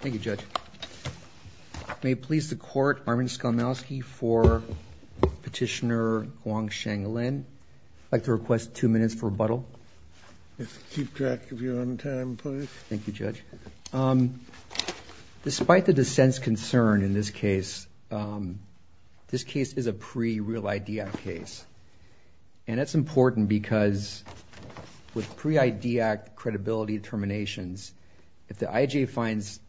Thank you, Judge. May it please the Court, Armin Skolnowsky for Petitioner Huangsheng Lin. I'd like to request two minutes for rebuttal. Keep track of your own time, please. Thank you, Judge. Despite the dissent's concern in this case, this case is a pre-Real ID Act case. And that's important because with pre-ID Act credibility determinations, if the IJ finds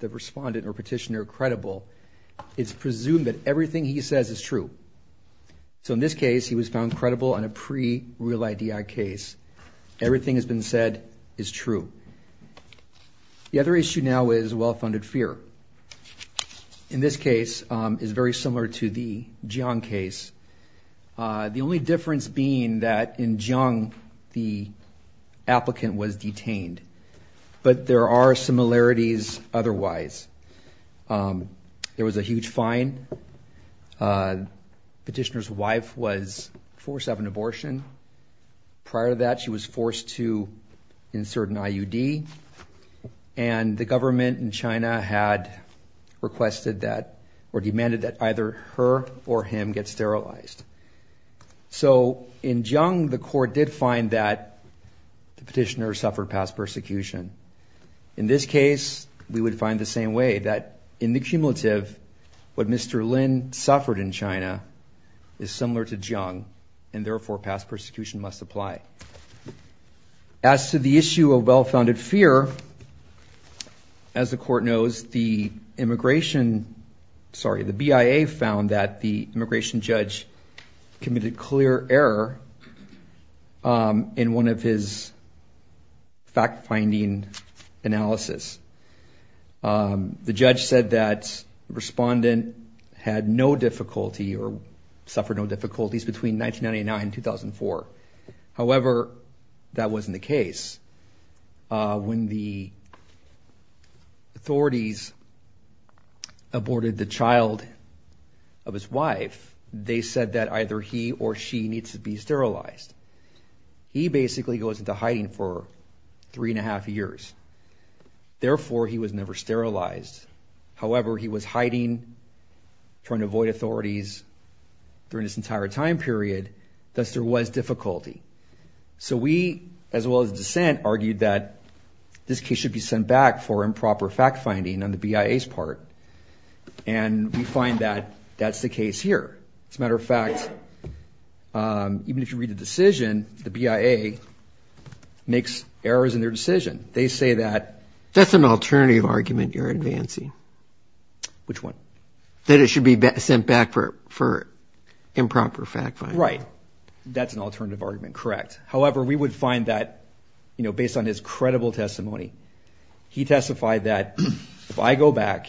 the respondent or petitioner credible, it's presumed that everything he says is true. So in this case, he was found credible on a pre-Real ID Act case. Everything that's been said is true. The other issue now is well-funded fear. In this case, it's very similar to the Jiang case. The only difference being that in Jiang, the applicant was detained. But there are similarities otherwise. There was a huge fine. Petitioner's wife was forced to have an abortion. Prior to that, she was forced to insert an IUD. And the government in China had requested that or demanded that either her or him get sterilized. So in Jiang, the court did find that the petitioner suffered past persecution. In this case, we would find the same way, that in the cumulative, what Mr. Lin suffered in China is similar to Jiang. And therefore, past persecution must apply. As to the issue of well-founded fear, as the court knows, the immigration, sorry, the BIA found that the immigration judge committed clear error in one of his fact-finding analysis. The judge said that the respondent had no difficulty or suffered no difficulties between 1999 and 2004. However, that wasn't the case. When the authorities aborted the child of his wife, they said that either he or she needs to be sterilized. He basically goes into hiding for three and a half years. Therefore, he was never sterilized. However, he was hiding, trying to avoid authorities during this entire time period, thus there was difficulty. So we, as well as dissent, argued that this case should be sent back for improper fact-finding on the BIA's part. And we find that that's the case here. As a matter of fact, even if you read the decision, the BIA makes errors in their decision. They say that. That's an alternative argument you're advancing. Which one? That it should be sent back for improper fact-finding. Right. That's an alternative argument, correct. However, we would find that, based on his credible testimony, he testified that, if I go back,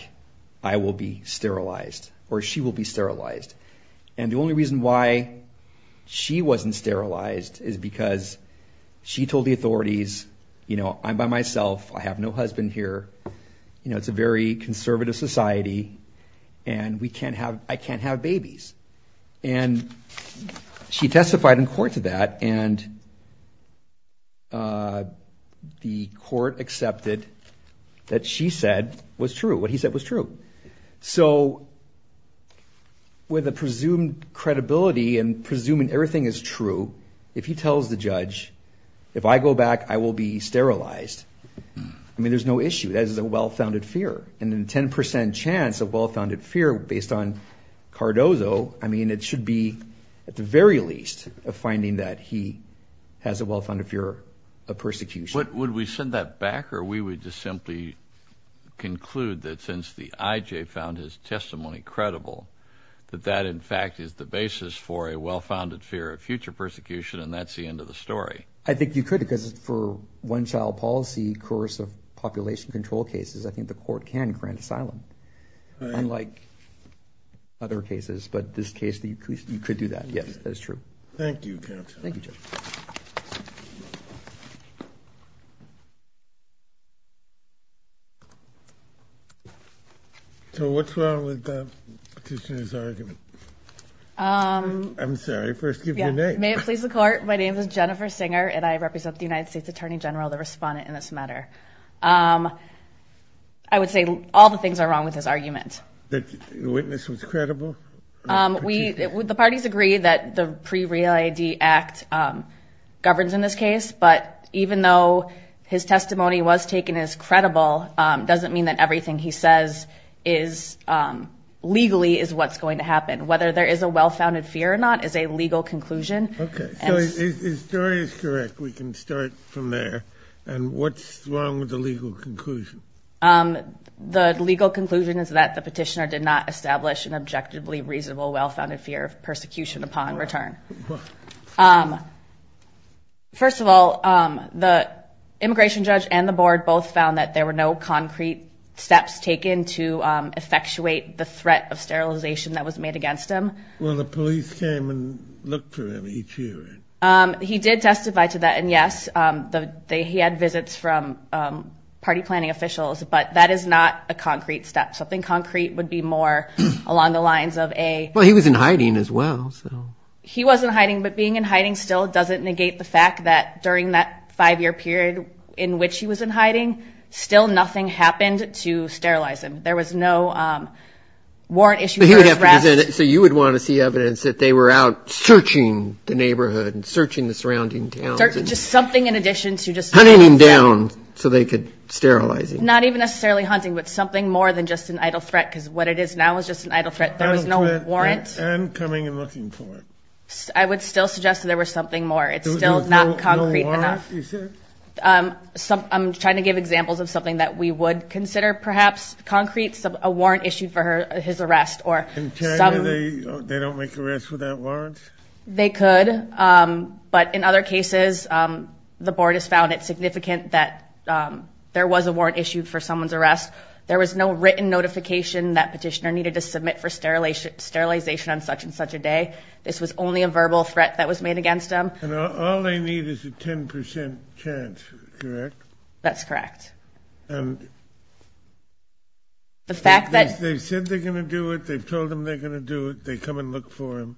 I will be sterilized, or she will be sterilized. And the only reason why she wasn't sterilized is because she told the authorities, I'm by myself, I have no husband here, it's a very conservative society, and I can't have babies. And she testified in court to that, and the court accepted that she said was true, what he said was true. So with a presumed credibility, and presuming everything is true, if he tells the judge, if I go back, I will be sterilized, I mean, there's no issue. That is a well-founded fear. And a 10% chance of well-founded fear, based on Cardozo, I mean, it should be, at the very least, a finding that he has a well-founded fear of persecution. Would we send that back, or we would just simply conclude that, since the IJ found his testimony credible, that that, in fact, is the basis for a well-founded fear of future persecution, and that's the end of the story? I think you could, because for one child policy course of population control cases, I think the court can grant asylum, unlike other cases. But this case, you could do that. Yes, that is true. Thank you, counsel. Thank you, Judge. So what's wrong with the petitioner's argument? I'm sorry, first give your name. May it please the court, my name is Jennifer Singer, and I represent the United States Attorney General, the respondent in this matter. I would say all the things are wrong with his argument. That the witness was credible? The parties agree that the Pre-Real ID Act governs in this case, but even though his testimony was taken as credible, doesn't mean that everything he says legally is what's going to happen. Whether there is a well-founded fear or not is a legal conclusion. OK, so his story is correct. We can start from there. And what's wrong with the legal conclusion? The legal conclusion is that the petitioner did not establish an objectively reasonable well-founded fear of persecution upon return. First of all, the immigration judge and the board both found that there were no concrete steps taken to effectuate the threat of sterilization that was made against him. Well, the police came and looked for him each year, right? He did testify to that, and yes. He had visits from party planning officials, but that is not a concrete step. Something concrete would be more along the lines of a- Well, he was in hiding as well, so. He was in hiding, but being in hiding still doesn't negate the fact that during that five-year period in which he was in hiding, still nothing happened to sterilize him. There was no warrant issue for his arrest. So you would want to see evidence that they were out searching the neighborhood and searching the surrounding towns. Just something in addition to just- Hunting him down so they could sterilize him. Not even necessarily hunting, but something more than just an idle threat, because what it is now is just an idle threat. There was no warrant. And coming and looking for him. I would still suggest that there was something more. It's still not concrete enough. No warrant, you said? I'm trying to give examples of something that we would consider, perhaps, concrete, a warrant issued for his arrest. In China, they don't make arrests without warrants? They could. But in other cases, the board has found it significant that there was a warrant issued for someone's arrest. There was no written notification that petitioner needed to submit for sterilization on such and such a day. This was only a verbal threat that was made against him. And all they need is a 10% chance, correct? That's correct. And they've said they're going to do it. They've told them they're going to do it. They come and look for him.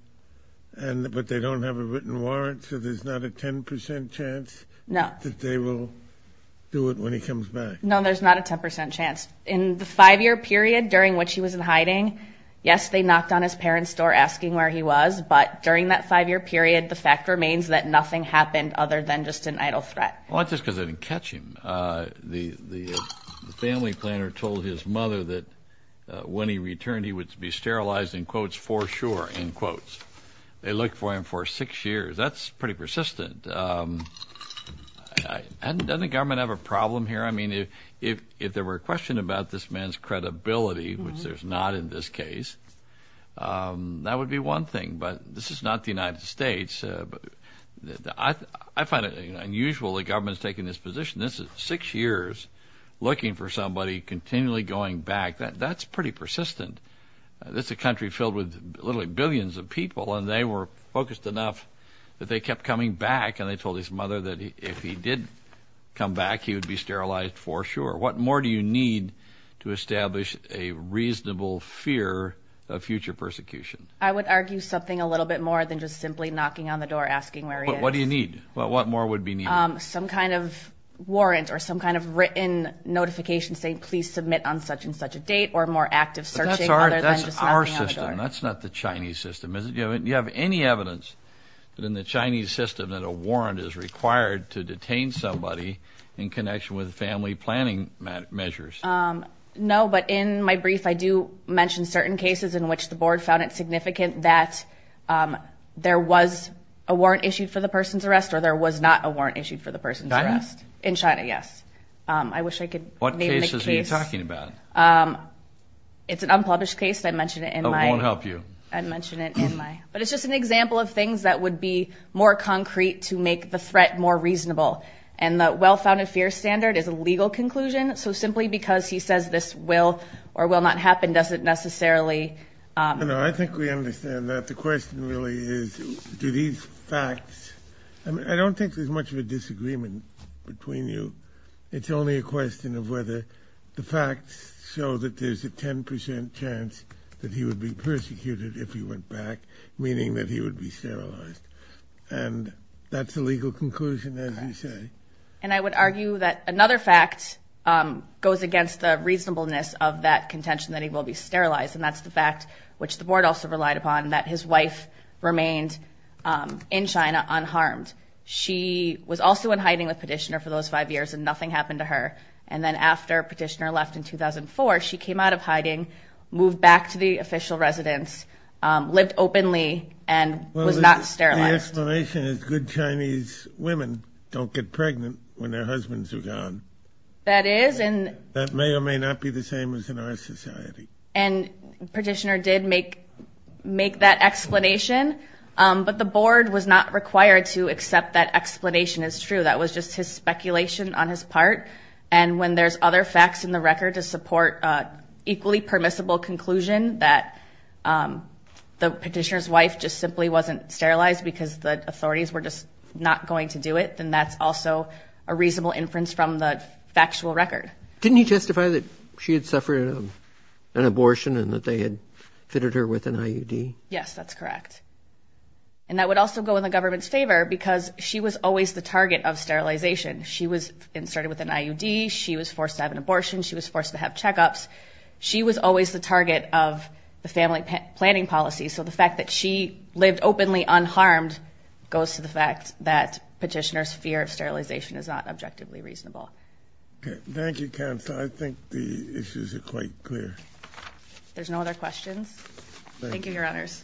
But they don't have a written warrant? So there's not a 10% chance that they will do it when he comes back? No, there's not a 10% chance. In the five-year period during which he was in hiding, yes, they knocked on his parents' door asking where he was. But during that five-year period, the fact remains that nothing happened other than just an idle threat. Well, that's just because they didn't catch him. The family planner told his mother that when he returned, he would be sterilized, in quotes, for sure, in quotes. They looked for him for six years. That's pretty persistent. Doesn't the government have a problem here? I mean, if there were a question about this man's credibility, which there's not in this case, that would be one thing. But this is not the United States. I find it unusual the government is taking this position. This is six years looking for somebody, continually going back. That's pretty persistent. This is a country filled with literally billions of people, and they were focused enough that they kept coming back, and they told his mother that if he did come back, he would be sterilized for sure. What more do you need to establish a reasonable fear of future persecution? I would argue something a little bit more than just simply knocking on the door, asking where he is. But what do you need? What more would be needed? Some kind of warrant or some kind of written notification saying, please submit on such and such a date or more active searching other than just knocking on the door. That's not the Chinese system, is it? Do you have any evidence that in the Chinese system that a warrant is required to detain somebody in connection with family planning measures? No, but in my brief, I do mention certain cases in which the board found it significant that there was a warrant issued for the person's arrest or there was not a warrant issued for the person's arrest. In China, yes. I wish I could name the case. What are you talking about? It's an unpublished case. I mentioned it in my. It won't help you. I mentioned it in my. But it's just an example of things that would be more concrete to make the threat more reasonable. And the well-founded fear standard is a legal conclusion. So simply because he says this will or will not happen doesn't necessarily. I think we understand that. The question really is, do these facts, I don't think there's much of a disagreement between you. It's only a question of whether the facts show that there's a 10% chance that he would be persecuted if he went back, meaning that he would be sterilized. And that's a legal conclusion, as you say. And I would argue that another fact goes against the reasonableness of that contention that he will be sterilized. And that's the fact, which the board also relied upon, that his wife remained in China unharmed. She was also in hiding with Petitioner for those five years, and nothing happened to her. And then after Petitioner left in 2004, she came out of hiding, moved back to the official residence, lived openly, and was not sterilized. Well, the explanation is good Chinese women don't get pregnant when their husbands are gone. That is, and. That may or may not be the same as in our society. And Petitioner did make that explanation. But the board was not required to accept that explanation as true. That was just his speculation on his part. And when there's other facts in the record to support an equally permissible conclusion that the Petitioner's wife just simply wasn't sterilized because the authorities were just not going to do it, then that's also a reasonable inference from the factual record. Didn't he justify that she had suffered an abortion and that they had fitted her with an IUD? Yes, that's correct. And that would also go in the government's favor because she was always the target of sterilization. She was inserted with an IUD. She was forced to have an abortion. She was forced to have checkups. She was always the target of the family planning policy. So the fact that she lived openly unharmed goes to the fact that Petitioner's fear of sterilization is not objectively reasonable. Okay, thank you, Counsel. I think the issues are quite clear. There's no other questions? Thank you, Your Honors.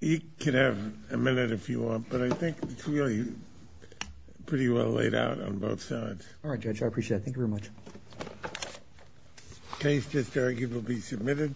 You can have a minute if you want, but I think it's really pretty well laid out on both sides. All right, Judge, I appreciate it. Thank you very much. Case just arguably submitted.